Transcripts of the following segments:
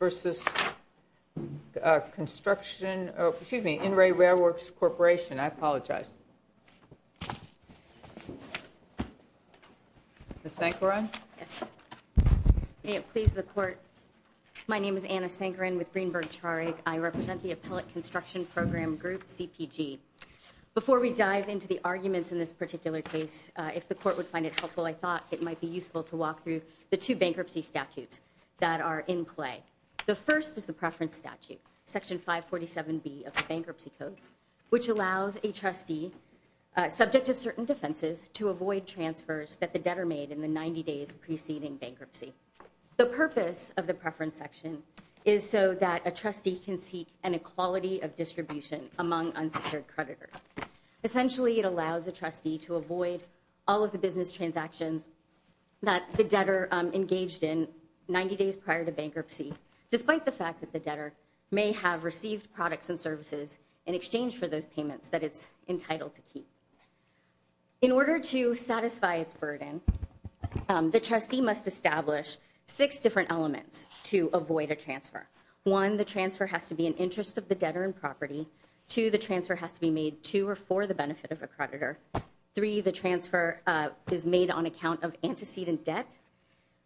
versus Construction, excuse me, In-Ray Railworks Corporation. I apologize. Ms. Sankaran? Yes, may it please the court. My name is Anna Sankaran with Greenberg Charig. I represent the Appellate Construction Program Group, CPG. Before we dive into the arguments in this particular case, if the court would find it helpful, I thought it might be useful to walk through the two bankruptcy statutes that are in play. The first is the preference statute, Section 547B of the Bankruptcy Code, which allows a trustee, subject to certain defenses, to avoid transfers that the debtor made in the 90 days preceding bankruptcy. The purpose of the preference section is so that a trustee can seek an equality of distribution among unsecured creditors. Essentially, it allows a trustee to avoid all of the business transactions that the debtor engaged in 90 days prior to bankruptcy, despite the fact that the debtor may have received products and services in exchange for those payments that it's entitled to keep. In order to satisfy its burden, the trustee must establish six different elements to avoid a transfer. One, the transfer has to be in interest of the debtor and property. Two, the transfer has to be made to or for the benefit of a creditor. Three, the transfer is made on account of antecedent debt.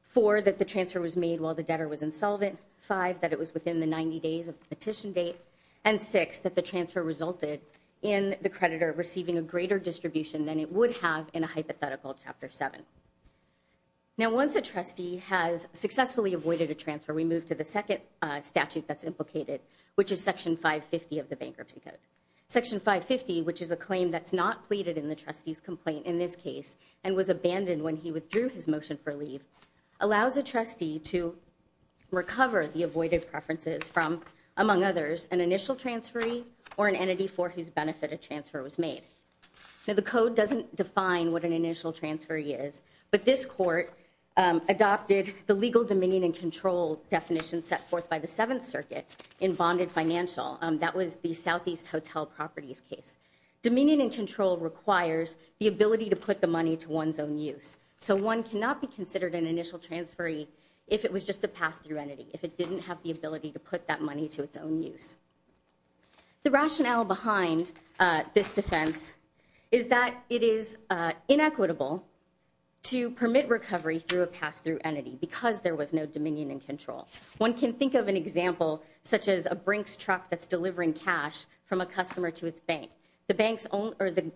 Four, that the transfer was made while the debtor was insolvent. Five, that it was within the 90 days of the petition date. And six, that the transfer resulted in the creditor receiving a greater distribution than it would have in a hypothetical Chapter 7. Now, once a trustee has successfully avoided a transfer, we move to the second statute that's implicated, which is Section 550 of the Bankruptcy Code. Section 550, which is a claim that's not pleaded in the trustee's complaint in this case, and was abandoned when he withdrew his motion for leave, allows a trustee to recover the avoided preferences from, among others, an initial transferee or an entity for whose benefit a transfer was made. Now, the code doesn't define what an initial transferee is, but this court adopted the legal dominion and control definition set forth by the Seventh Amendment to the Financial. That was the Southeast Hotel Properties case. Dominion and control requires the ability to put the money to one's own use. So one cannot be considered an initial transferee if it was just a pass-through entity, if it didn't have the ability to put that money to its own use. The rationale behind this defense is that it is inequitable to permit recovery through a pass-through entity because there was no dominion and control. One can think of an example such as a Brinks truck that's delivering cash from a customer to its bank. The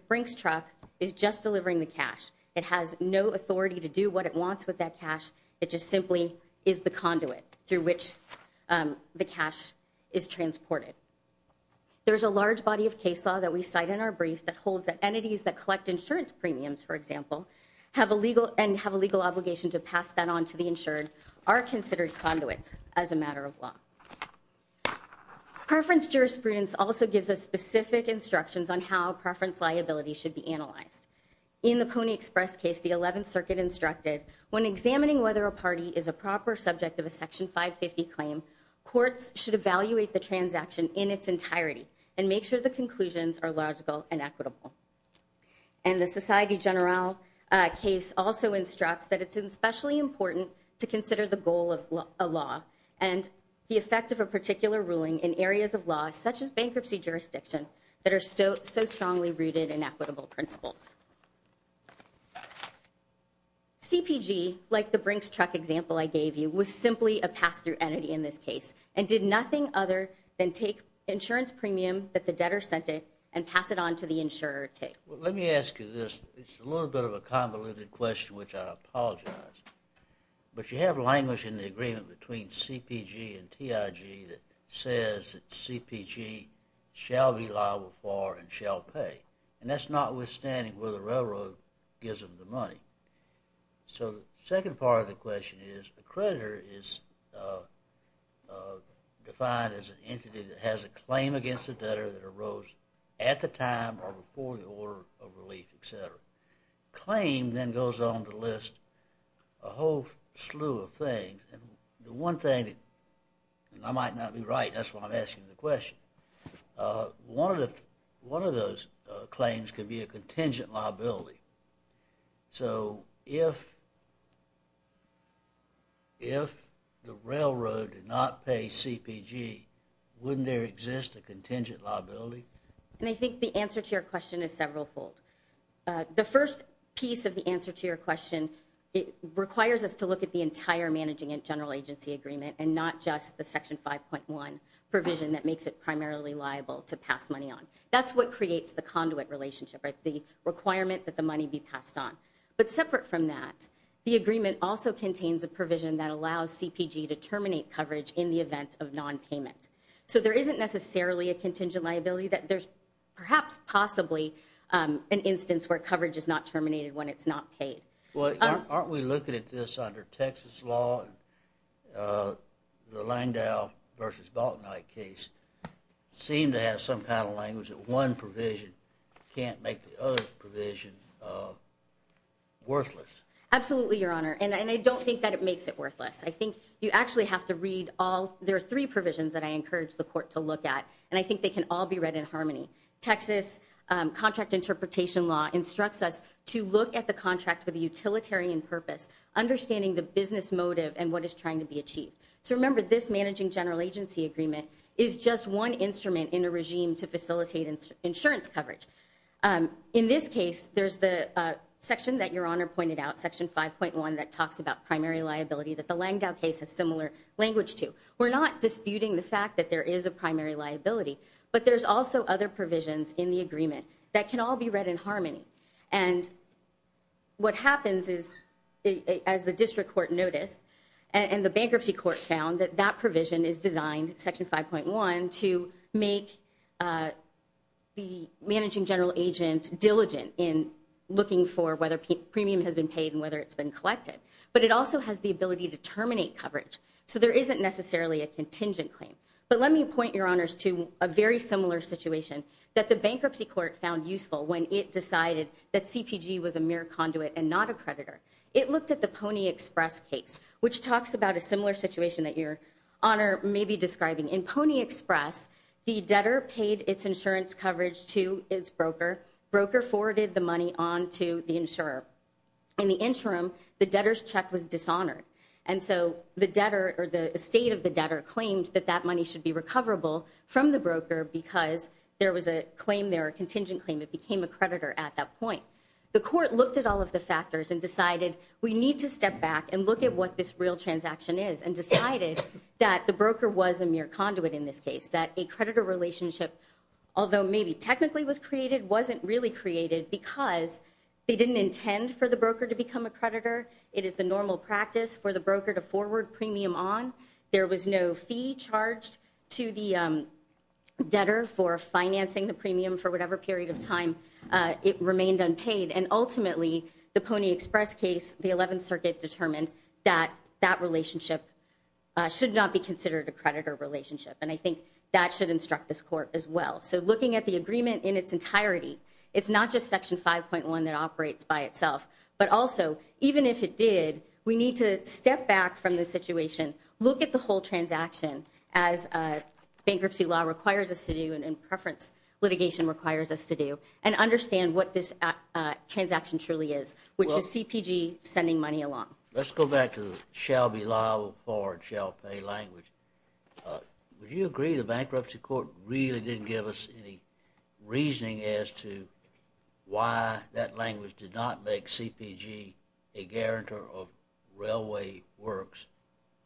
Brinks truck is just delivering the cash. It has no authority to do what it wants with that cash. It just simply is the conduit through which the cash is transported. There's a large body of case law that we cite in our brief that holds that entities that collect insurance premiums, for example, and have a legal obligation to pass that on to the insured are considered conduits as a matter of law. Preference jurisprudence also gives us specific instructions on how preference liability should be analyzed. In the Pony Express case, the 11th Circuit instructed when examining whether a party is a proper subject of a Section 550 claim, courts should evaluate the transaction in its entirety and make sure the conclusions are logical and equitable. And the Society General case also instructs that it's especially important to consider the goal of a law and the effect of a in areas of law such as bankruptcy jurisdiction that are so strongly rooted in equitable principles. CPG, like the Brinks truck example I gave you, was simply a pass-through entity in this case and did nothing other than take insurance premium that the debtor sent it and pass it on to the insurer to take. Let me ask you this. It's a little bit of a convoluted question which I apologize, but you have language in the agreement between CPG and TIG that says that CPG shall be liable for and shall pay, and that's notwithstanding whether the railroad gives them the money. So the second part of the question is a creditor is defined as an entity that has a claim against the debtor that arose at the time or before the order of relief, etc. Claim then goes on to list a whole slew of things, and the one thing that I might not be right, that's why I'm asking the question. One of those claims could be a contingent liability. So if the railroad did not pay CPG, wouldn't there exist a contingent liability? And I think the answer to your question is severalfold. The first piece of the answer to your question, it requires us to look at the entire managing and general agency agreement and not just the Section 5.1 provision that makes it primarily liable to pass money on. That's what creates the conduit relationship, right, the requirement that the money be passed on. But separate from that, the agreement also contains a provision that allows CPG to terminate coverage in the event of non-payment. So there isn't necessarily a contingent liability that there's perhaps possibly an instance where coverage is not terminated when it's not paid. Well, aren't we looking at this under Texas law? The Langdell versus Baltonite case seemed to have some kind of language that one provision can't make the other provision worthless. Absolutely, Your Honor, and I don't think that it makes it worthless. I think you actually have to there are three provisions that I encourage the court to look at, and I think they can all be read in harmony. Texas contract interpretation law instructs us to look at the contract with a utilitarian purpose, understanding the business motive and what is trying to be achieved. So remember, this managing general agency agreement is just one instrument in a regime to facilitate insurance coverage. In this case, there's the section that Your Honor pointed out, section 5.1, that talks about primary liability that the Langdell case has similar language to. We're not disputing the fact that there is a primary liability, but there's also other provisions in the agreement that can all be read in harmony. And what happens is, as the district court noticed and the bankruptcy court found, that that provision is designed, section 5.1, to make the managing general agent diligent in looking for whether premium has been paid and whether it's been collected. But it also has the ability to terminate coverage, so there isn't necessarily a contingent claim. But let me point, Your Honors, to a very similar situation that the bankruptcy court found useful when it decided that CPG was a mere conduit and not a creditor. It looked at the Pony Express case, which talks about a similar situation that Your Honor may be describing. In Pony Express, the debtor paid its insurance coverage to its broker. Broker forwarded the money on to the insurer. In the interim, the debtor's check was dishonored. And so the debtor or the estate of the debtor claimed that that money should be recoverable from the broker because there was a claim there, a contingent claim. It became a creditor at that point. The court looked at all of the factors and decided we need to step back and look at what this real transaction is and decided that the broker was a mere conduit in this case, that a creditor relationship, although maybe technically was created, wasn't really created because they didn't intend for the broker to become a creditor. It is the normal practice for the broker to forward premium on. There was no fee charged to the debtor for financing the premium for whatever period of time it remained unpaid. And ultimately, the Pony Express case, the 11th Circuit determined that that relationship should not be considered a creditor relationship. And I think that should instruct this court as well. So looking at the agreement in its entirety, it's not just Section 5.1 that operates by itself, but also even if it did, we need to step back from the situation, look at the whole transaction as a bankruptcy law requires us to do and in preference, litigation requires us to do and understand what this transaction truly is, which is CPG sending money along. Let's go back to shall be liable for shall pay language. Would you agree the bankruptcy court really didn't give us any reasoning as to why that language did not make CPG a guarantor of railway works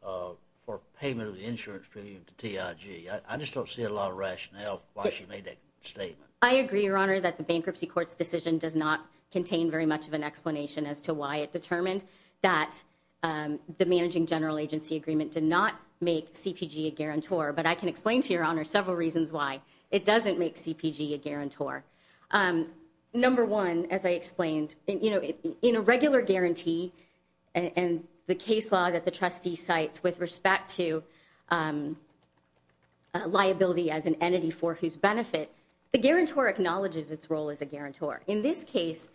for payment of the insurance premium to TIG? I just don't see a lot of rationale why she made that statement. I agree, Your Honor, that the bankruptcy court's does not contain very much of an explanation as to why it determined that the managing general agency agreement did not make CPG a guarantor. But I can explain to Your Honor several reasons why it doesn't make CPG a guarantor. Number one, as I explained, in a regular guarantee and the case law that the trustee cites with respect to liability as an entity for whose in this case,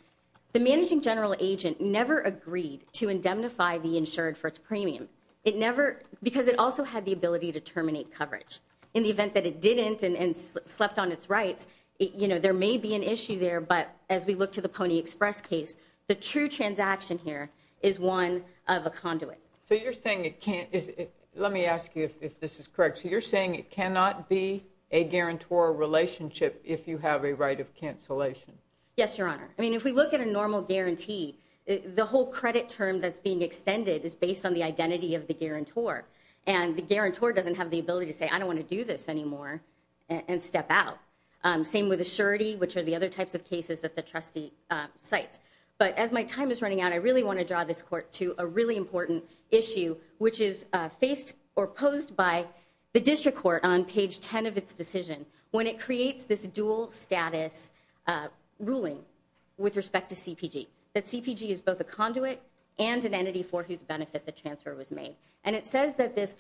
the managing general agent never agreed to indemnify the insured for its premium. It never because it also had the ability to terminate coverage in the event that it didn't and slept on its rights. You know, there may be an issue there. But as we look to the Pony Express case, the true transaction here is one of a conduit. So you're saying it can't. Let me ask you if this is correct. You're saying it cannot be a guarantor relationship if you have a right of cancellation. Yes, Your Honor. I mean, if we look at a normal guarantee, the whole credit term that's being extended is based on the identity of the guarantor and the guarantor doesn't have the ability to say, I don't want to do this anymore and step out. Same with assurity, which are the other types of cases that the trustee cites. But as my time is running out, I really want to draw this court to a really important issue, which is faced or posed by the district on page 10 of its decision when it creates this dual status ruling with respect to CPG, that CPG is both a conduit and an entity for whose benefit the transfer was made. And it says that this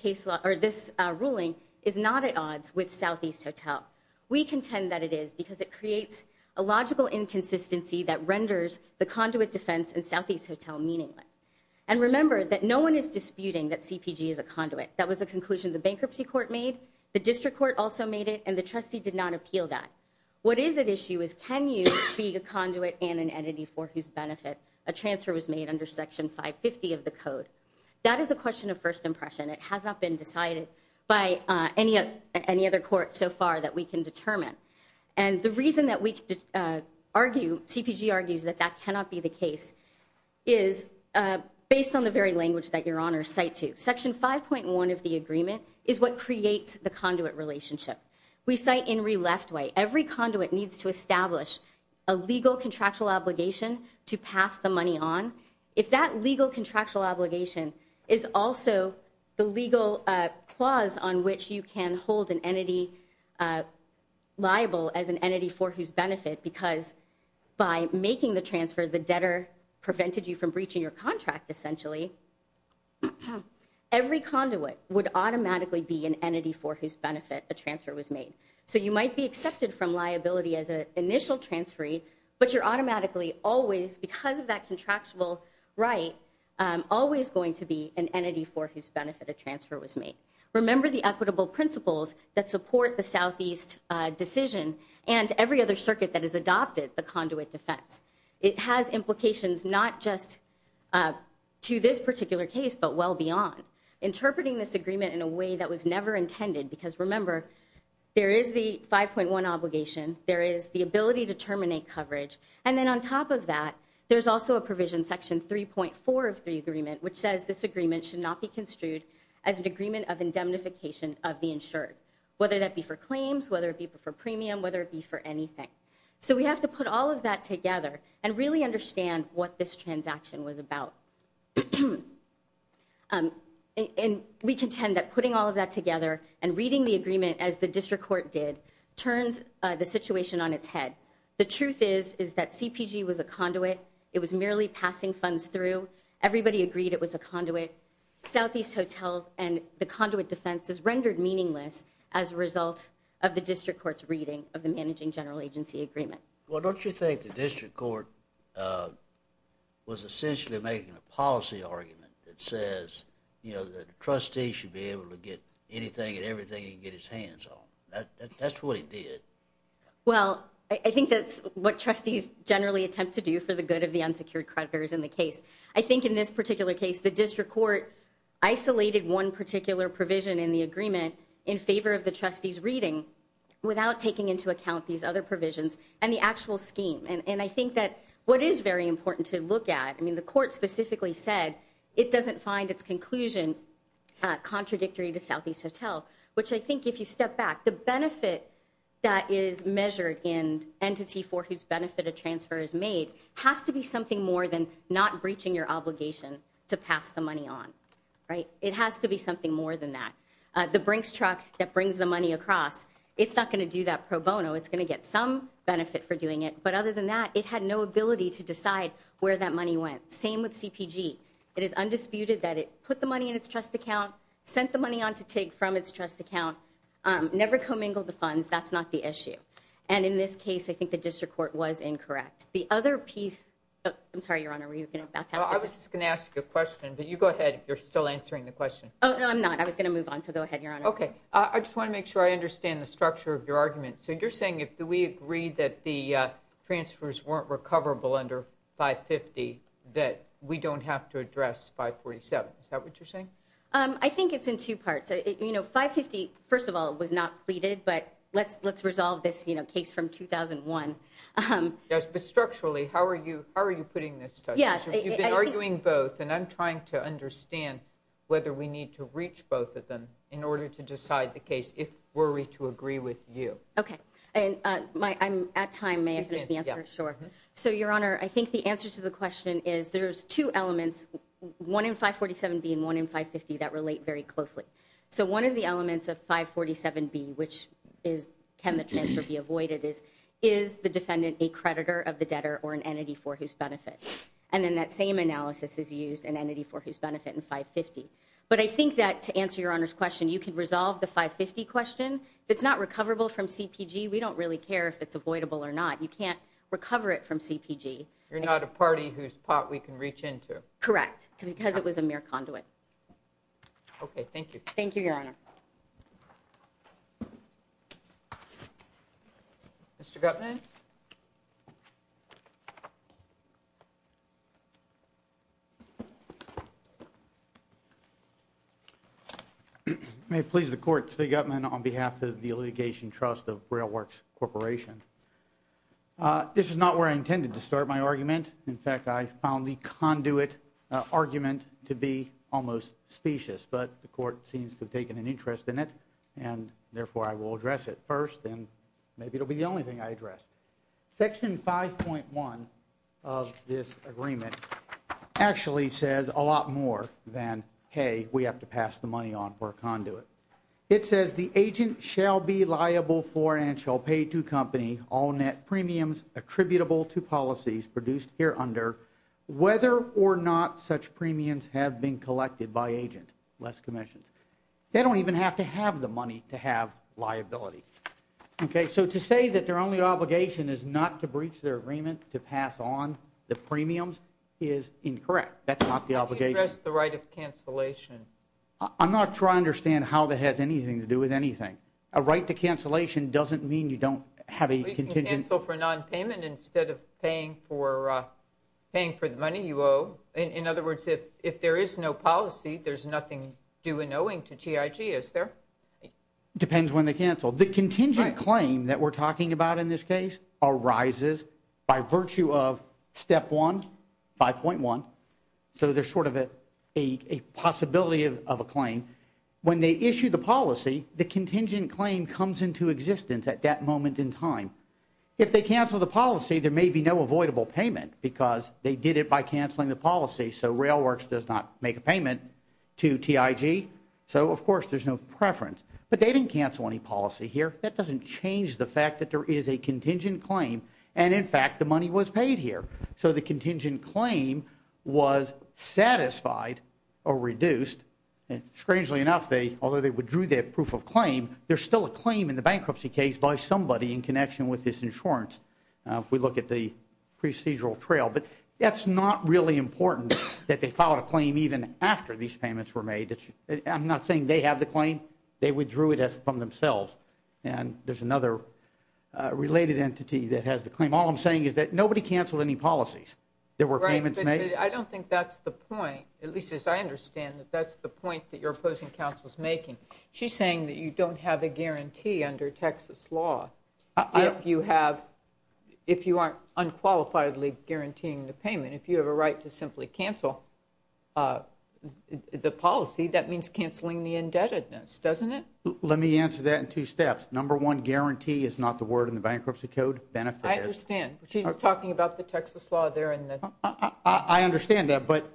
ruling is not at odds with Southeast Hotel. We contend that it is because it creates a logical inconsistency that renders the conduit defense in Southeast Hotel meaningless. And remember that no one is disputing that CPG is a conduit. That was a conclusion the bankruptcy court made, the district court also made it, and the trustee did not appeal that. What is at issue is, can you be a conduit and an entity for whose benefit a transfer was made under section 550 of the code? That is a question of first impression. It has not been decided by any other court so far that we can determine. And the reason that we argue, CPG argues that that cannot be the case, is based on the very language that your honors cite to. Section 5.1 of the agreement is what creates the conduit relationship. We cite in re-left way. Every conduit needs to establish a legal contractual obligation to pass the money on. If that legal contractual obligation is also the legal clause on which you can hold an entity liable as an entity for whose benefit, because by making the transfer, the debtor prevented you from breaching your automatically be an entity for whose benefit a transfer was made. So you might be accepted from liability as an initial transferee, but you're automatically always, because of that contractual right, always going to be an entity for whose benefit a transfer was made. Remember the equitable principles that support the Southeast decision and every other circuit that has adopted the conduit defense. It has implications not just to this particular case, but well beyond. Interpreting this agreement in a way that was never intended, because remember, there is the 5.1 obligation. There is the ability to terminate coverage. And then on top of that, there's also a provision section 3.4 of the agreement, which says this agreement should not be construed as an agreement of indemnification of the insured, whether that be for claims, whether it be for premium, whether it be for anything. So we have to put all of that together and really understand what this transaction was about. And we contend that putting all of that together and reading the agreement as the district court did turns the situation on its head. The truth is, is that CPG was a conduit. It was merely passing funds through. Everybody agreed it was a conduit. Southeast hotels and the conduit defense is rendered meaningless as a result of the district court's reading of the managing general agency agreement. Well, don't you think the district court was essentially making a policy argument that says, you know, that trustees should be able to get anything and everything he can get his hands on? That's what he did. Well, I think that's what trustees generally attempt to do for the good of the unsecured creditors in the case. I think in this particular case, the district court isolated one particular provision in the agreement in favor of the other provisions and the actual scheme. And I think that what is very important to look at, I mean, the court specifically said it doesn't find its conclusion contradictory to Southeast Hotel, which I think if you step back, the benefit that is measured in entity for whose benefit a transfer is made has to be something more than not breaching your obligation to pass the money on, right? It has to be something more than that. The Brinks truck that brings the money across, it's not going to do that pro bono. It's going to get some benefit for doing it. But other than that, it had no ability to decide where that money went. Same with CPG. It is undisputed that it put the money in its trust account, sent the money on to take from its trust account, never commingled the funds. That's not the issue. And in this case, I think the district court was incorrect. The other piece, I'm sorry, Your Honor, were you going to? I was just going to ask you a question, but you go ahead. You're still answering the question. Oh, no, I'm not. I was going to move on. So go ahead, Your Honor. OK, I just want to make sure I understand the structure of your argument. So you're saying if we agree that the transfers weren't recoverable under 550, that we don't have to address 547. Is that what you're saying? I think it's in two parts. You know, 550, first of all, was not pleaded. But let's let's resolve this case from 2001. Yes, but structurally, how are you? How are you putting this? Yes, you've been arguing both. And I'm trying to understand whether we need to reach both of them in order to decide the case, if we're to agree with you. OK, and I'm at time. May I finish the answer? Sure. So, Your Honor, I think the answer to the question is there's two elements, one in 547B and one in 550 that relate very closely. So one of the elements of 547B, which is can the transfer be avoided, is is the defendant a creditor of the debtor or an entity for whose benefit? And then that same analysis is used an entity for whose benefit in 550. But I think that to answer your honor's question, you can resolve the 550 question. It's not recoverable from CPG. We don't really care if it's avoidable or not. You can't recover it from CPG. You're not a party whose pot we can reach into. Correct. Because it was a mere conduit. OK, thank you. Thank you, Your Honor. Mr. Gutman. May it please the Court, Steve Gutman on behalf of the Litigation Trust of Railworks Corporation. This is not where I intended to start my argument. In fact, I found the conduit argument to be almost specious. But the court seems to have taken an interest in it. And therefore, I will address it first. And maybe it'll be the only thing I address. Section 5.1 of this agreement actually says a lot more than, hey, we have to pass the money on for a conduit. It says the agent shall be liable for and shall pay to company all net premiums attributable to policies produced here under, whether or not such premiums have been collected by agent, less commissions. They don't even have to have the money to have liability. OK, so to say that their only obligation is not to breach their agreement to pass on the premiums is incorrect. That's not the obligation. You addressed the right of cancellation. I'm not sure I understand how that has anything to do with anything. A right to cancellation doesn't mean you don't have a contingent for nonpayment instead of paying for paying for the money you owe. In other words, if there is no policy, there's nothing due and owing to TIG, is there? Depends when they cancel. The contingent claim that we're talking about in this case arises by virtue of step one, 5.1. So there's sort of a possibility of a claim. When they issue the policy, the contingent claim comes into existence at that moment in time. If they cancel the policy, there may be no avoidable payment because they did it by canceling the policy. So Railworks does not make a payment to TIG. So of course, there's no preference. But they didn't cancel any policy here. That doesn't change the fact that there is a contingent claim. And in fact, the money was paid here. So the contingent claim was satisfied or reduced. And strangely enough, although they withdrew their proof of claim, there's still a claim in the bankruptcy case by somebody in connection with this insurance. If we look at the procedural trail. But that's not really important that they filed a claim even after these payments were made. I'm not saying they have the claim. They withdrew it from themselves. And there's another related entity that has the claim. All I'm saying is that nobody canceled any policies. There were payments made. I don't think that's the point, at least as I understand that that's the point that you're opposing counsel's making. She's saying that you don't have a guarantee under Texas law. If you aren't unqualifiedly guaranteeing the payment, if you have a right to simply cancel the policy, that means cancelling the indebtedness, doesn't it? Let me answer that in two steps. Number one, guarantee is not the word in the bankruptcy code. Benefit is. I understand. She's talking about the Texas law there. I understand that. But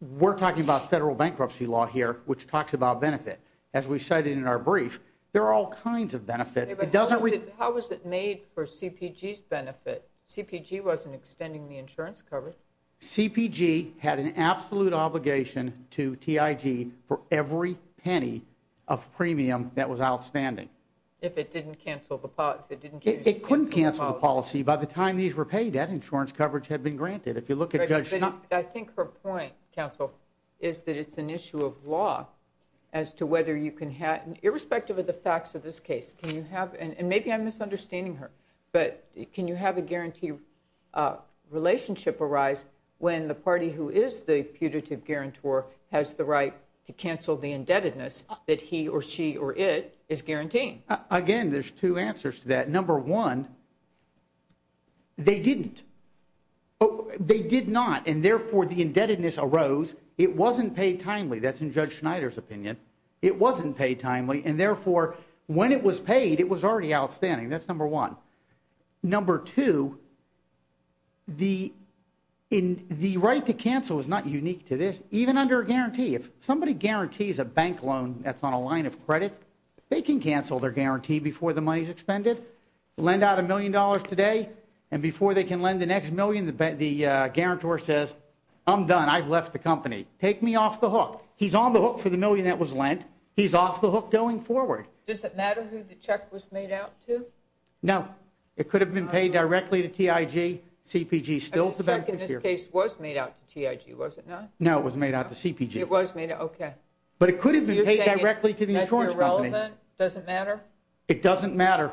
we're talking about federal bankruptcy law here, which talks about benefit. As we cited in our brief, there are all kinds of benefits. It doesn't. How was it made for CPG's benefit? CPG wasn't extending the insurance coverage. CPG had an absolute obligation to TIG for every penny of premium that was outstanding. If it didn't cancel the pot, it didn't. It couldn't cancel the policy. By the time these were paid, that insurance coverage had been granted. If you look at it, I think her point, counsel, is that it's an issue of law as to whether you can have, irrespective of the facts of this case, can you have, and maybe I'm misunderstanding her, but can you have a guarantee relationship arise when the party who is the putative guarantor has the right to cancel the indebtedness that he or she or it is guaranteeing? Again, there's two answers to that. Number one, they didn't. They did not, and therefore, the indebtedness arose. It wasn't paid timely. That's in Judge Schneider's opinion. It wasn't paid timely, and therefore, when it was paid, it was already outstanding. That's number one. Number two, the right to cancel is not unique to this. Even under a guarantee, if somebody guarantees a bank loan that's on a line of credit, they can cancel their guarantee before the money is expended, lend out a million dollars today, and before they can lend the next I'm done. I've left the company. Take me off the hook. He's on the hook for the million that was lent. He's off the hook going forward. Does it matter who the check was made out to? No. It could have been paid directly to TIG, CPG. The check in this case was made out to TIG, was it not? No, it was made out to CPG. It was made out, okay. But it could have been paid directly to the insurance company. That's irrelevant? It doesn't matter? It doesn't matter.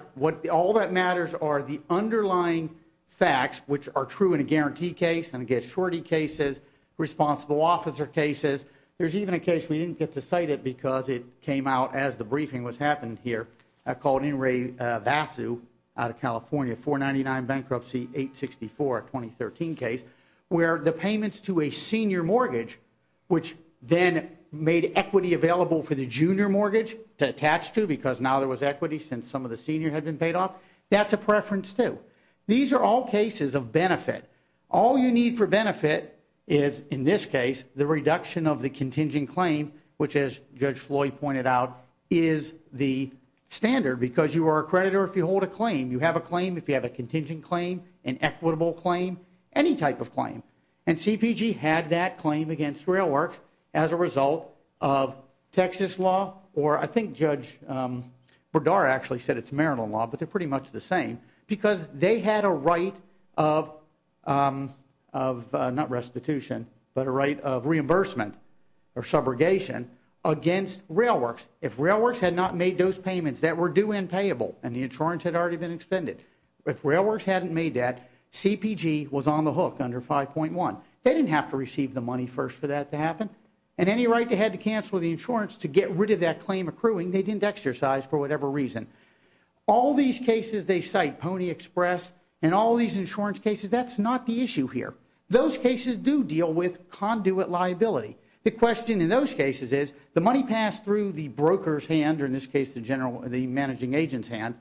All that matters are the underlying facts, which are true in a guarantee case, and again, shorty cases, responsible officer cases. There's even a case we didn't get to cite it because it came out as the briefing was happening here. I called in Ray Vasu out of California, 499 bankruptcy, 864, 2013 case, where the payments to a senior mortgage, which then made equity available for the junior mortgage to attach to because now there was equity since some of the senior had been paid off. That's a preference too. These are all cases of benefit. All you need for benefit is, in this case, the reduction of the contingent claim, which as Judge Floyd pointed out, is the standard because you are a creditor if you hold a claim. You have a claim if you have a contingent claim, an equitable claim, any type of claim. And CPG had that claim against Rail Works as a result of Texas law, or I think Judge Berdara actually said it's Maryland law, but they're pretty much the same, because they had a right of not restitution, but a right of reimbursement or subrogation against Rail Works. If Rail Works had not made those payments that were due and payable and the insurance had already been expended, if Rail Works hadn't made that, CPG was on the hook under 5.1. They didn't have to receive the money first for that to happen. And any right they had to cancel the insurance to get rid of that claim accruing, they didn't exercise for whatever reason. All these cases they cite, Pony Express, and all these insurance cases, that's not the issue here. Those cases do deal with conduit liability. The question in those cases is, the money passed through the broker's hand, or in this case, the general, the managing agent's hand,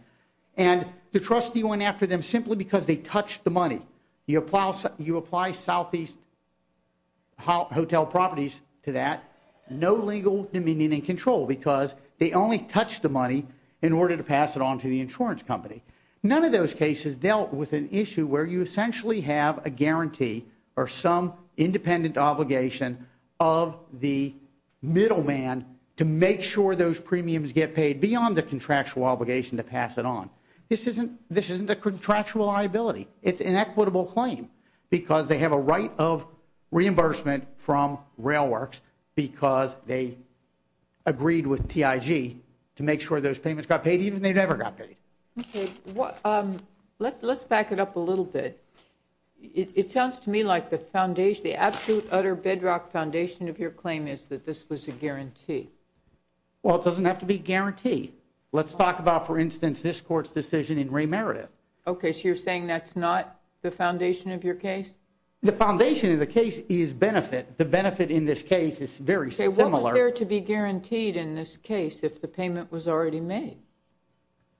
and the trustee went after them simply because they touched the money. You apply southeast hotel properties to that, no legal dominion and control, because they only touched the money in order to pass it on to the insurance company. None of those cases dealt with an issue where you essentially have a guarantee or some independent obligation of the middleman to make sure those premiums get paid beyond the contractual obligation to pass it on. This isn't a contractual liability. It's an equitable claim because they have a right of reimbursement from RailWorks because they agreed with TIG to make sure those payments got paid even if they never got paid. Okay, let's back it up a little bit. It sounds to me like the foundation, the absolute utter bedrock foundation of your claim is that this was a guarantee. Well, it doesn't have to be a guarantee. Let's talk about, for instance, this court's decision in Ray Meredith. Okay, so you're saying that's not the foundation of your case? The foundation of the case is benefit. The benefit in this case is very similar. What was there to be guaranteed in this case if the payment was already made?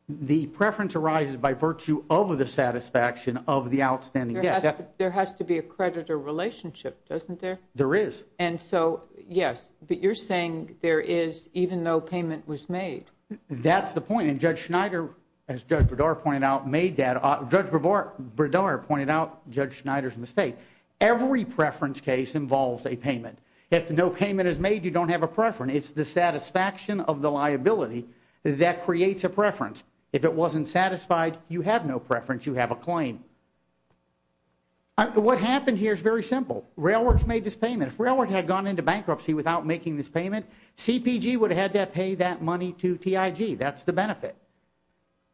The preference arises by virtue of the satisfaction of the outstanding debt. There has to be a creditor relationship, doesn't there? There is. And so, yes, but you're saying there is even though payment was made. That's the point. And Judge Schneider, as Judge Berdara pointed out, made that. Judge Berdara pointed out Judge Schneider's mistake. Every preference case involves a payment. If no payment is made, you don't have a preference. It's the satisfaction of the liability that creates a preference. If it wasn't satisfied, you have no preference. You have a claim. What happened here is very simple. RailWorks made this payment. If RailWorks had gone into bankruptcy without making this payment, CPG would have had to pay that money to TIG. That's the benefit.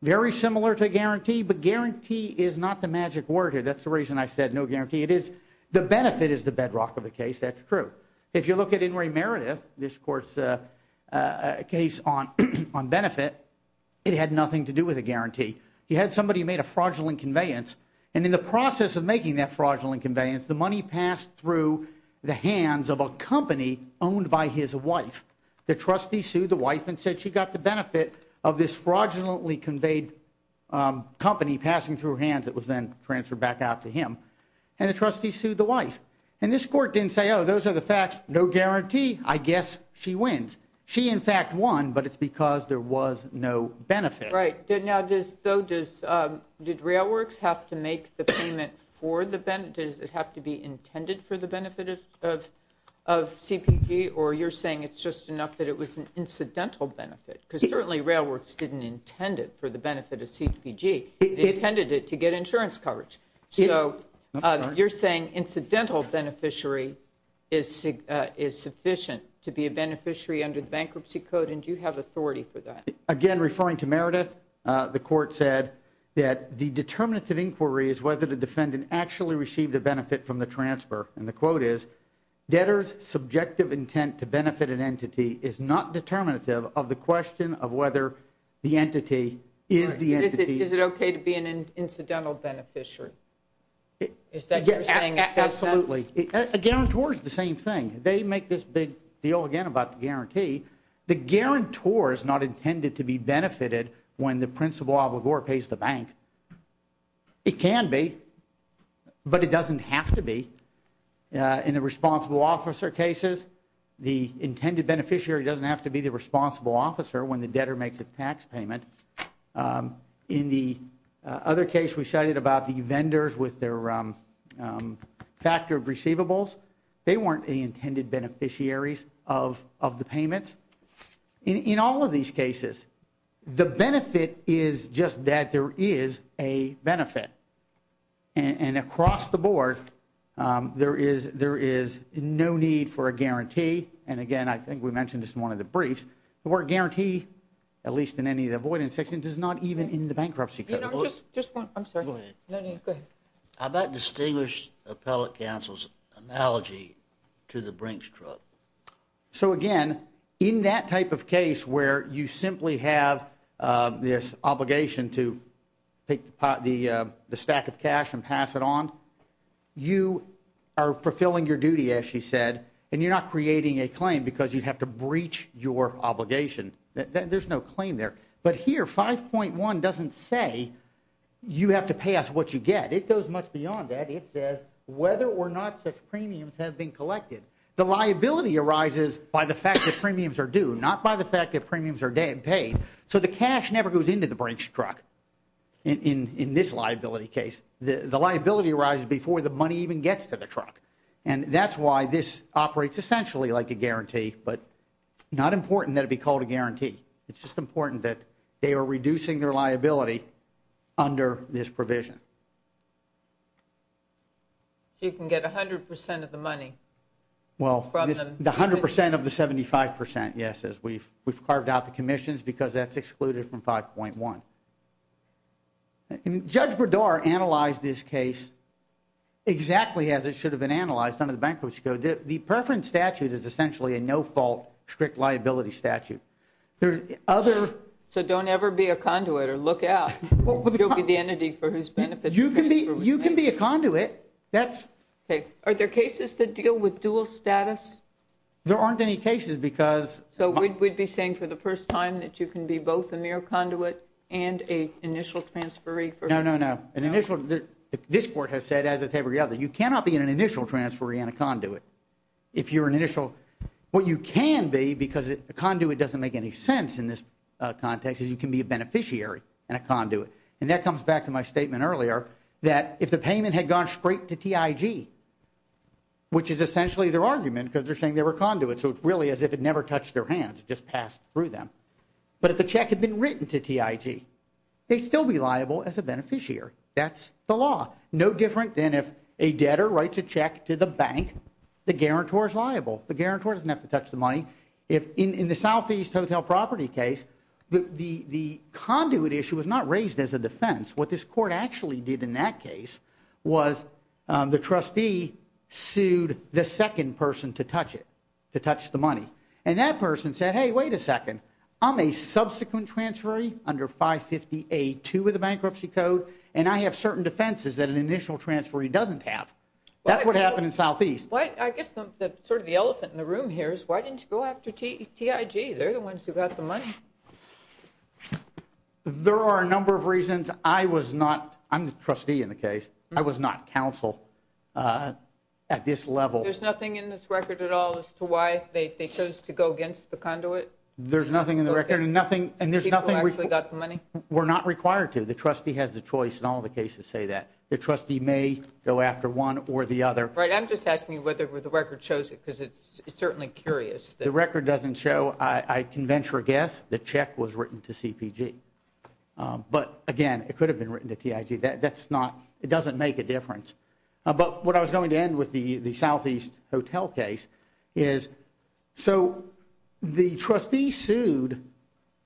Very similar to guarantee, but guarantee is not the magic word here. That's the reason I said no guarantee. It is the benefit is the bedrock of the case. That's true. If you look at Inouye Meredith, this court's case on benefit, it had nothing to do with a guarantee. He had somebody who made a fraudulent conveyance. And in the process of making that fraudulent conveyance, the money passed through the hands of a company owned by his wife. The trustee sued the wife and said she got the benefit of this fraudulently conveyed company passing through her hands that was then transferred back out to him. And the trustee sued the wife. And this court didn't say, oh, those are the facts. No guarantee. I guess she wins. She, in fact, won, but it's because there was no benefit. Right. Now, though, did RailWorks have to make the payment for the benefit? Does it have to be or you're saying it's just enough that it was an incidental benefit? Because certainly RailWorks didn't intend it for the benefit of CPG. They intended it to get insurance coverage. So you're saying incidental beneficiary is is sufficient to be a beneficiary under the bankruptcy code. And do you have authority for that? Again, referring to Meredith, the court said that the determinative inquiry is whether the defendant actually received a benefit from the transfer. And the quote is debtors subjective intent to benefit an entity is not determinative of the question of whether the entity is the entity. Is it OK to be an incidental beneficiary? Is that you're saying? Absolutely. A guarantor is the same thing. They make this big deal again about the guarantee. The guarantor is not intended to be benefited when the principal pays the bank. It can be, but it doesn't have to be. In the responsible officer cases, the intended beneficiary doesn't have to be the responsible officer when the debtor makes a tax payment. In the other case we cited about the vendors with their factored receivables, they weren't the intended beneficiaries of of the payments. In all of these cases, the benefit is just that there is a benefit. And across the board, there is there is no need for a guarantee. And again, I think we mentioned this in one of the briefs. The word guarantee, at least in any of the avoidance sections, is not even in the bankruptcy. About distinguished appellate counsel's analogy to the Brinks truck. So again, in that type of case where you simply have this obligation to take the stack of cash and pass it on, you are fulfilling your duty, as she said, and you're not creating a claim because you have to breach your obligation. There's no claim there. But here, 5.1 doesn't say you have to pay us what you get. It goes much beyond that. It says whether or not such premiums have been due. Not by the fact that premiums are paid. So the cash never goes into the Brinks truck in this liability case. The liability arises before the money even gets to the truck. And that's why this operates essentially like a guarantee. But not important that it be called a guarantee. It's just important that they are reducing their liability under this provision. So you can get 100% of the money. Well, the 100% of the 75%, yes, as we've carved out the commissions because that's excluded from 5.1. Judge Bredar analyzed this case exactly as it should have been analyzed under the bankruptcy code. The preference statute is essentially a no-fault strict liability statute. There are other... So don't ever be a conduit or look out. You'll be the entity for whose benefits... You can be a conduit. That's... Okay. Are there cases that deal with dual status? There aren't any cases because... So we'd be saying for the first time that you can be both a mere conduit and a initial transferee for... No, no, no. An initial... This court has said, as it's every other, you cannot be in an initial transferee and a conduit. If you're an initial... What you can be, because a conduit doesn't make any sense in this context, is you can be a beneficiary and a conduit. And that comes back to my statement earlier that if the payment had gone straight to TIG, which is essentially their argument because they're saying they were conduits, so it's really as if it never touched their hands, it just passed through them. But if the check had been written to TIG, they'd still be liable as a beneficiary. That's the law. No different than if a debtor writes a check to the bank, the guarantor is liable. The guarantor doesn't have to touch the money. If in the Southeast Hotel Property case, the conduit issue was not raised as a defense. What this court actually did in that case was the trustee sued the second person to touch it, to touch the money. And that person said, hey, wait a second, I'm a subsequent transferee under 550A2 of the bankruptcy code, and I have certain defenses that an initial transferee doesn't have. That's what happened in Southeast. I guess sort of the elephant in the room here is why didn't you go after TIG? They're the ones who got the money. There are a number of reasons. I was not, I'm the trustee in the case, I was not counsel at this level. There's nothing in this record at all as to why they chose to go against the conduit? There's nothing in the record and nothing, and there's nothing. People actually got the money? We're not required to. The trustee has the choice in all the cases say that. The trustee may go after one or the other. Right, I'm just asking you whether the record shows it because it's certainly curious. The record doesn't show I can venture a guess the check was written to CPG. But again, it could have been written to TIG. That's not, it doesn't make a difference. But what I was going to end with the Southeast Hotel case is, so the trustee sued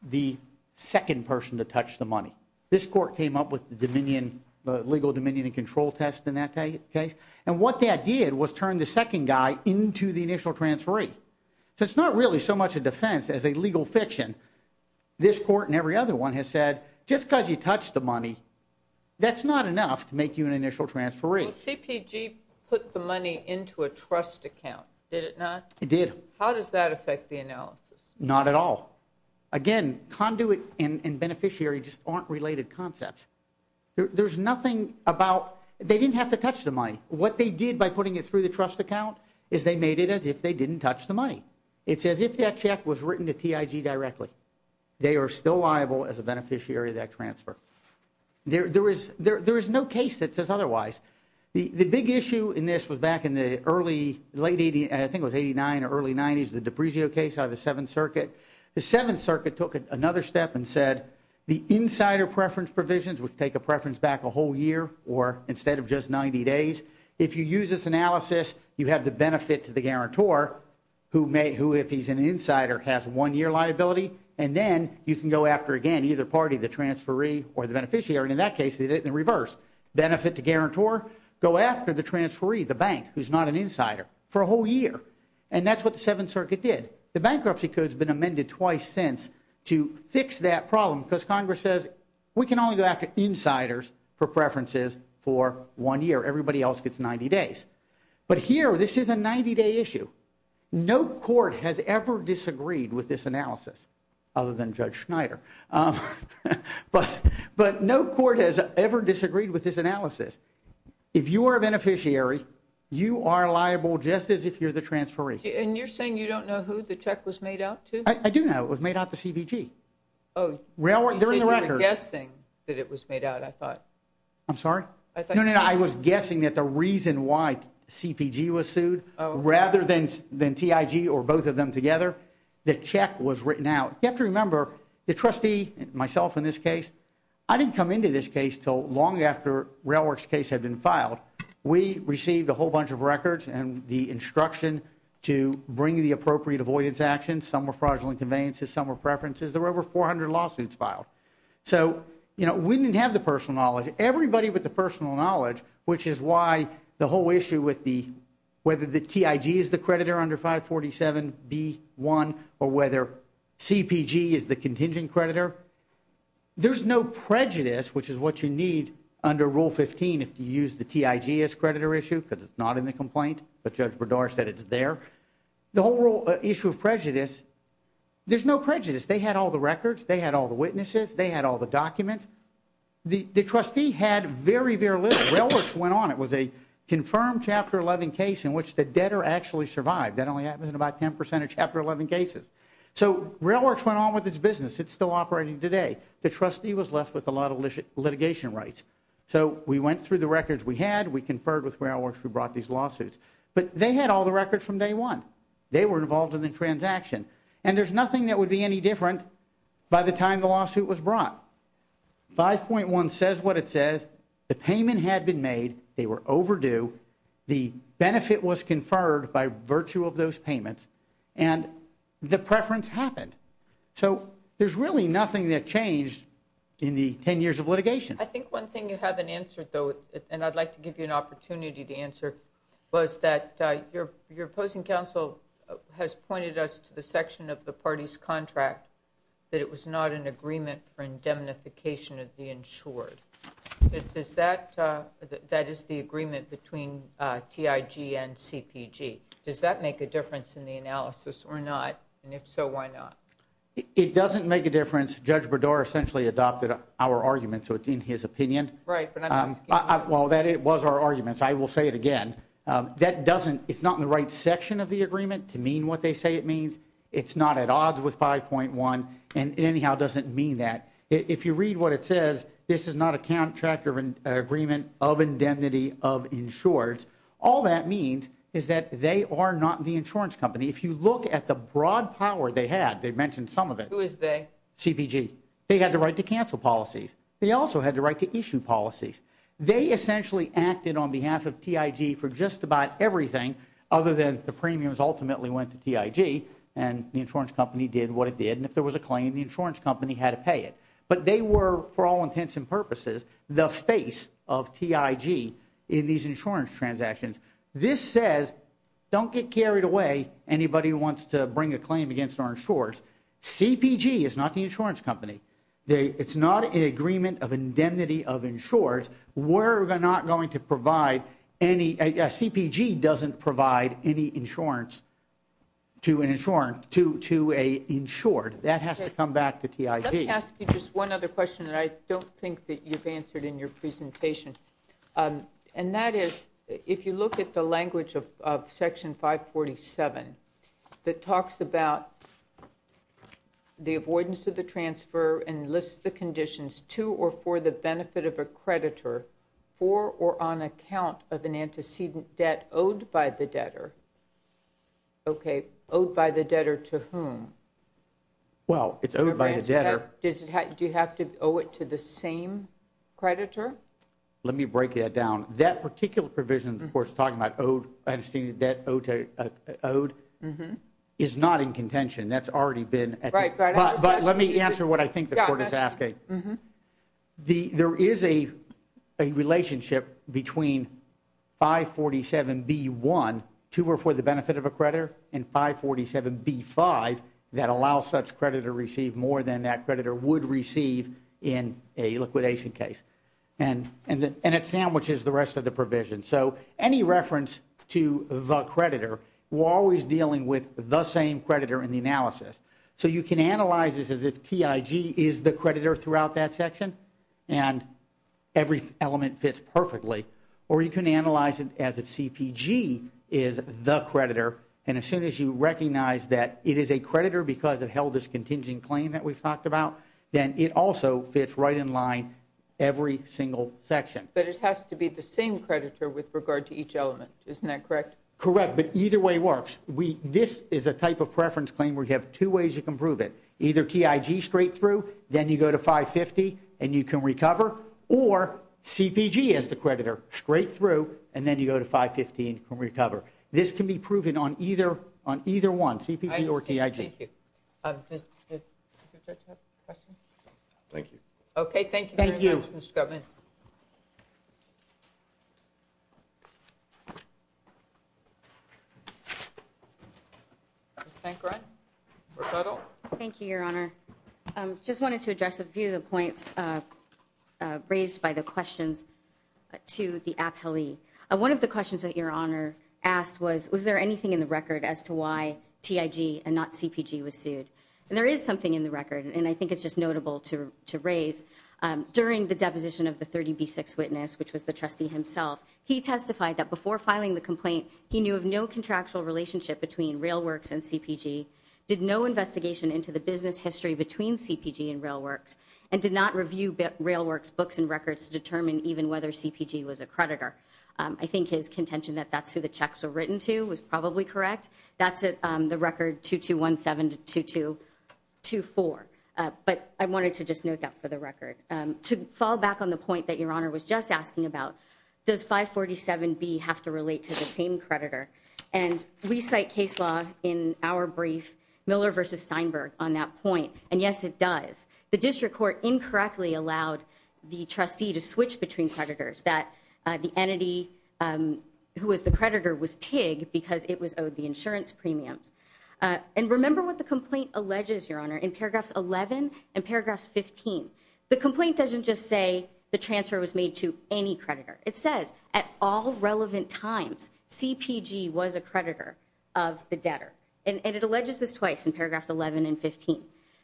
the second person to touch the money. This court came up with the dominion, the legal dominion and control test in that case. And what that did was turn the as a legal fiction. This court and every other one has said, just because you touch the money, that's not enough to make you an initial transferee. CPG put the money into a trust account, did it not? It did. How does that affect the analysis? Not at all. Again, conduit and beneficiary just aren't related concepts. There's nothing about, they didn't have to touch the money. What they did by putting it through the trust account is they made it as if they didn't touch the money. It's as if that check was written to TIG directly. They are still liable as a beneficiary of that transfer. There is no case that says otherwise. The big issue in this was back in the early, late 80s, I think it was 89 or early 90s, the DiPregio case out of the Seventh Circuit. The Seventh Circuit took another step and said, the insider preference provisions would take a preference back a whole year or instead of just 90 days. If you use this analysis, you have the benefit to the guarantor, who if he's an insider has one year liability, and then you can go after again, either party, the transferee or the beneficiary. In that case, they did it in reverse. Benefit to guarantor, go after the transferee, the bank, who's not an insider for a whole year. That's what the Seventh Circuit did. The bankruptcy code has been amended twice since to fix that problem because Congress says, we can only go after insiders for preferences for one year. Everybody else gets 90 days. But here, this is a 90-day issue. No court has ever disagreed with this analysis other than Judge Schneider. But no court has ever disagreed with this analysis. If you are a beneficiary, you are liable just as if you're the transferee. And you're saying you don't know who the check was made out to? I do know. It was made out to CBG. Oh, you said you were guessing that it was made out, I thought. I'm sorry? No, no, no. I was guessing that the reason why CBG was sued rather than TIG or both of them together, the check was written out. You have to remember, the trustee, myself in this case, I didn't come into this case till long after RailWorks' case had been filed. We received a whole bunch of records and the instruction to bring the appropriate avoidance actions. Some were fraudulent conveyances, some were everybody with the personal knowledge, which is why the whole issue with the whether the TIG is the creditor under 547B1 or whether CPG is the contingent creditor, there's no prejudice, which is what you need under Rule 15 if you use the TIG as creditor issue, because it's not in the complaint, but Judge Bredar said it's there. The whole issue of prejudice, there's no prejudice. They had all the records. They had all the witnesses. They had all the documents. The trustee had very, very little. RailWorks went on. It was a confirmed Chapter 11 case in which the debtor actually survived. That only happens in about 10% of Chapter 11 cases. So RailWorks went on with its business. It's still operating today. The trustee was left with a lot of litigation rights. So we went through the records we had. We conferred with RailWorks. We brought these lawsuits. But they had all the records from day one. They were involved in the transaction. And there's nothing that would be any different by the time the lawsuit was brought. 5.1 says what it says. The payment had been made. They were overdue. The benefit was conferred by virtue of those payments. And the preference happened. So there's really nothing that changed in the 10 years of litigation. I think one thing you haven't answered, though, and I'd like to give you an opportunity to answer, was that your opposing counsel has pointed us to the section of the party's contract that it was not an agreement for indemnification of the insured. That is the agreement between TIG and CPG. Does that make a difference in the analysis or not? And if so, why not? It doesn't make a difference. Judge Berdour essentially adopted our argument. So it's in his opinion. Right, but I'm asking you. Well, that it was our arguments. I will say it again. It's not in the right section of the agreement to mean what they say it means. It's not at odds with 5.1. And it anyhow doesn't mean that. If you read what it says, this is not a contract of agreement of indemnity of insureds. All that means is that they are not the insurance company. If you look at the broad power they had, they mentioned some of it. Who is they? CPG. They had the right to cancel policies. They also had the right to issue policies. They essentially acted on behalf of TIG for just about everything other than the premiums ultimately went to TIG. And the insurance company did what it did. And if there was a claim, the insurance company had to pay it. But they were, for all intents and purposes, the face of TIG in these insurance transactions. This says, don't get carried away, anybody who wants to bring a claim against our insurers. CPG is not the insurance company. It's not an agreement of indemnity of insureds. We're not going to provide any, CPG doesn't provide any insurance to an insured. That has to come back to TIG. Let me ask you just one other question that I don't think that you've answered in your presentation. And that is, if you look at the language of Section 547 that talks about the avoidance of the transfer and lists the conditions to or for the benefit of a creditor for or on account of an antecedent debt owed by the debtor. Okay, owed by the debtor to whom? Well, it's owed by the debtor. Do you have to owe it to the same creditor? Let me break that down. That particular provision, of course, talking about owed, antecedent debt owed, is not in contention. That's already been. Let me answer what I think the court is asking. There is a relationship between 547B1, to or for the benefit of a creditor, and 547B5 that allows such creditor to receive more than that creditor would receive in a liquidation case. And it sandwiches the rest of the provision. So any reference to the creditor, we're always dealing with the same creditor in the analysis. So you can analyze this as if TIG is the creditor throughout that section, and every element fits perfectly. Or you can analyze it as if CPG is the creditor. And as soon as you recognize that it is a creditor because it held this contingent claim that we've talked about, then it also fits right in line every single section. But it has to be the same creditor with regard to each element. Isn't that correct? Correct. But either way works. This is a type of preference claim where you have two ways you can prove it. Either TIG straight through, then you go to 550, and you can recover. Or CPG as the creditor, straight through, and then you go to 515, and you can recover. This can be proven on either one, CPG or TIG. I understand. Thank you. Thank you, Your Honor. I just wanted to address a few of the points raised by the questions to the appellee. One of the questions that Your Honor asked was, was there anything in the record as to and not CPG was sued? And there is something in the record, and I think it's just notable to raise. During the deposition of the 30B6 witness, which was the trustee himself, he testified that before filing the complaint, he knew of no contractual relationship between RailWorks and CPG, did no investigation into the business history between CPG and RailWorks, and did not review RailWorks books and records to determine even whether CPG was a creditor. I think his contention that that's the checks were written to was probably correct. That's the record 2217-2224. But I wanted to just note that for the record. To fall back on the point that Your Honor was just asking about, does 547B have to relate to the same creditor? And we cite case law in our brief, Miller v. Steinberg, on that point. And yes, it does. The district court incorrectly allowed the trustee to switch between creditors, that the entity who was the creditor was TIG because it was owed the insurance premiums. And remember what the complaint alleges, Your Honor, in paragraphs 11 and paragraphs 15. The complaint doesn't just say the transfer was made to any creditor. It says at all relevant times, CPG was a creditor of the debtor. And it alleges this twice in paragraphs 11 and 15.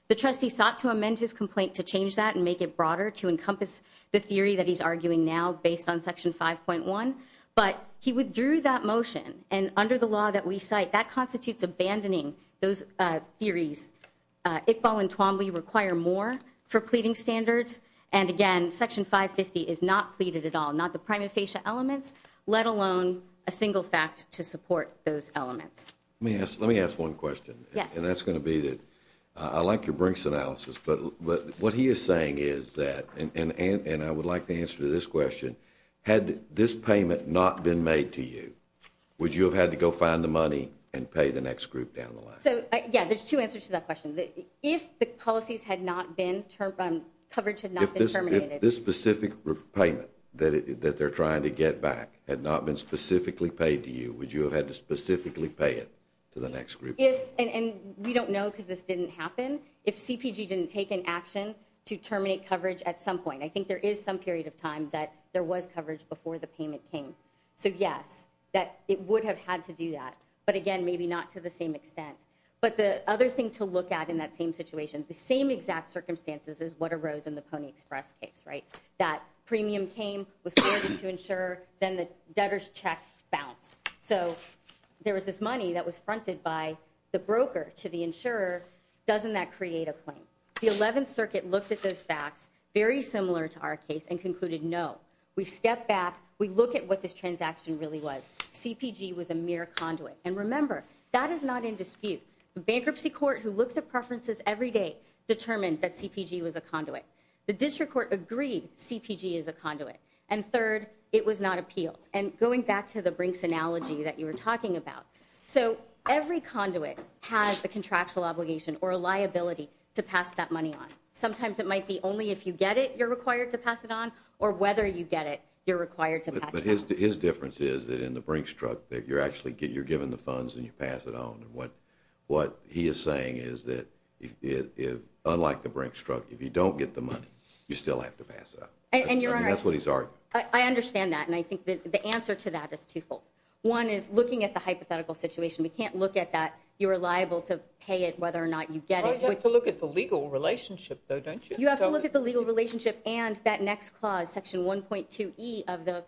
The trustee sought to amend his complaint to change that and make it broader to encompass the theory that he's arguing now based on section 5.1. But he withdrew that motion. And under the law that we cite, that constitutes abandoning those theories. Iqbal and Twombly require more for pleading standards. And again, section 550 is not pleaded at all, not the prima facie elements, let alone a single fact to support those elements. Let me ask one question. Yes. And that's going to I like your Brinks analysis, but what he is saying is that, and I would like to answer to this question, had this payment not been made to you, would you have had to go find the money and pay the next group down the line? So, yeah, there's two answers to that question. If the policies had not been termed, coverage had not been terminated. If this specific payment that they're trying to get back had not been specifically paid to you, would you have had to specifically pay it to the insurer? I don't know because this didn't happen. If CPG didn't take an action to terminate coverage at some point, I think there is some period of time that there was coverage before the payment came. So yes, that it would have had to do that. But again, maybe not to the same extent. But the other thing to look at in that same situation, the same exact circumstances as what arose in the Pony Express case, right? That premium came, was forwarded to insurer, then the debtor's check bounced. So there was this money that was fronted by the broker to the insurer. Doesn't that create a claim? The 11th Circuit looked at those facts, very similar to our case, and concluded, no. We stepped back. We look at what this transaction really was. CPG was a mere conduit. And remember, that is not in dispute. The bankruptcy court, who looks at preferences every day, determined that CPG was a conduit. The district court agreed CPG is a conduit. And third, it was not appealed. And going back to the Brinks analogy that you were talking about, so every conduit has the contractual obligation or a liability to pass that money on. Sometimes it might be only if you get it, you're required to pass it on, or whether you get it, you're required to pass it on. But his difference is that in the Brinks truck, that you're actually, you're given the funds and you pass it on. And what he is saying is that, unlike the Brinks truck, if you don't get the money, you still have to pass it on. And that's what he's arguing. I understand that. And I think the answer to that is twofold. One is looking at the hypothetical situation. We can't look at that. You're liable to pay it whether or not you get it. Well, you have to look at the legal relationship, though, don't you? You have to look at the legal relationship and that next clause, Section 1.2e of the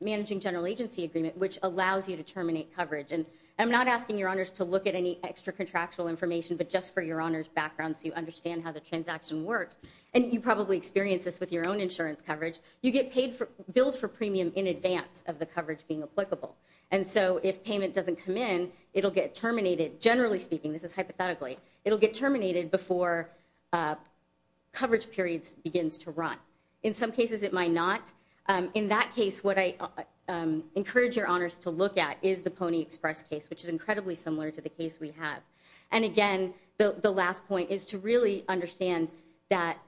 Managing General Agency Agreement, which allows you to terminate coverage. And I'm not asking your honors to look at any extra contractual information, but just for your honors background so you understand how the transaction works. And you probably experienced this with your insurance coverage. You get paid for billed for premium in advance of the coverage being applicable. And so if payment doesn't come in, it'll get terminated. Generally speaking, this is hypothetically, it'll get terminated before coverage periods begins to run. In some cases, it might not. In that case, what I encourage your honors to look at is the Pony Express case, which is incredibly similar to the case we have. And again, the last point is to understand that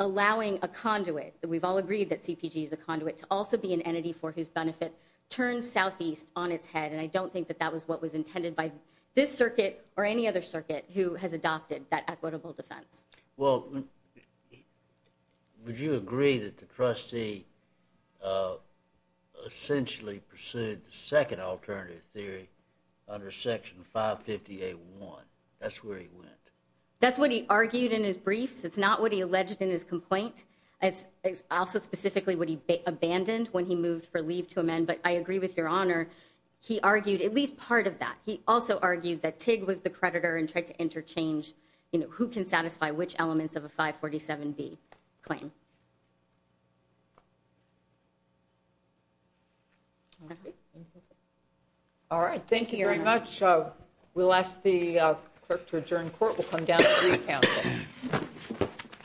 allowing a conduit, we've all agreed that CPG is a conduit, to also be an entity for whose benefit turns southeast on its head. And I don't think that that was what was intended by this circuit or any other circuit who has adopted that equitable defense. Well, would you agree that the trustee essentially pursued the second alternative theory under Section 558-1? That's where he went. That's what he argued in his briefs. It's not what he alleged in his complaint. It's also specifically what he abandoned when he moved for leave to amend. But I agree with your honor. He argued at least part of that. He also argued that TIG was the creditor and tried to interchange who can satisfy which elements of a 547B claim. Okay. All right. Thank you very much. We'll ask the clerk to adjourn court. We'll come down to recouncil.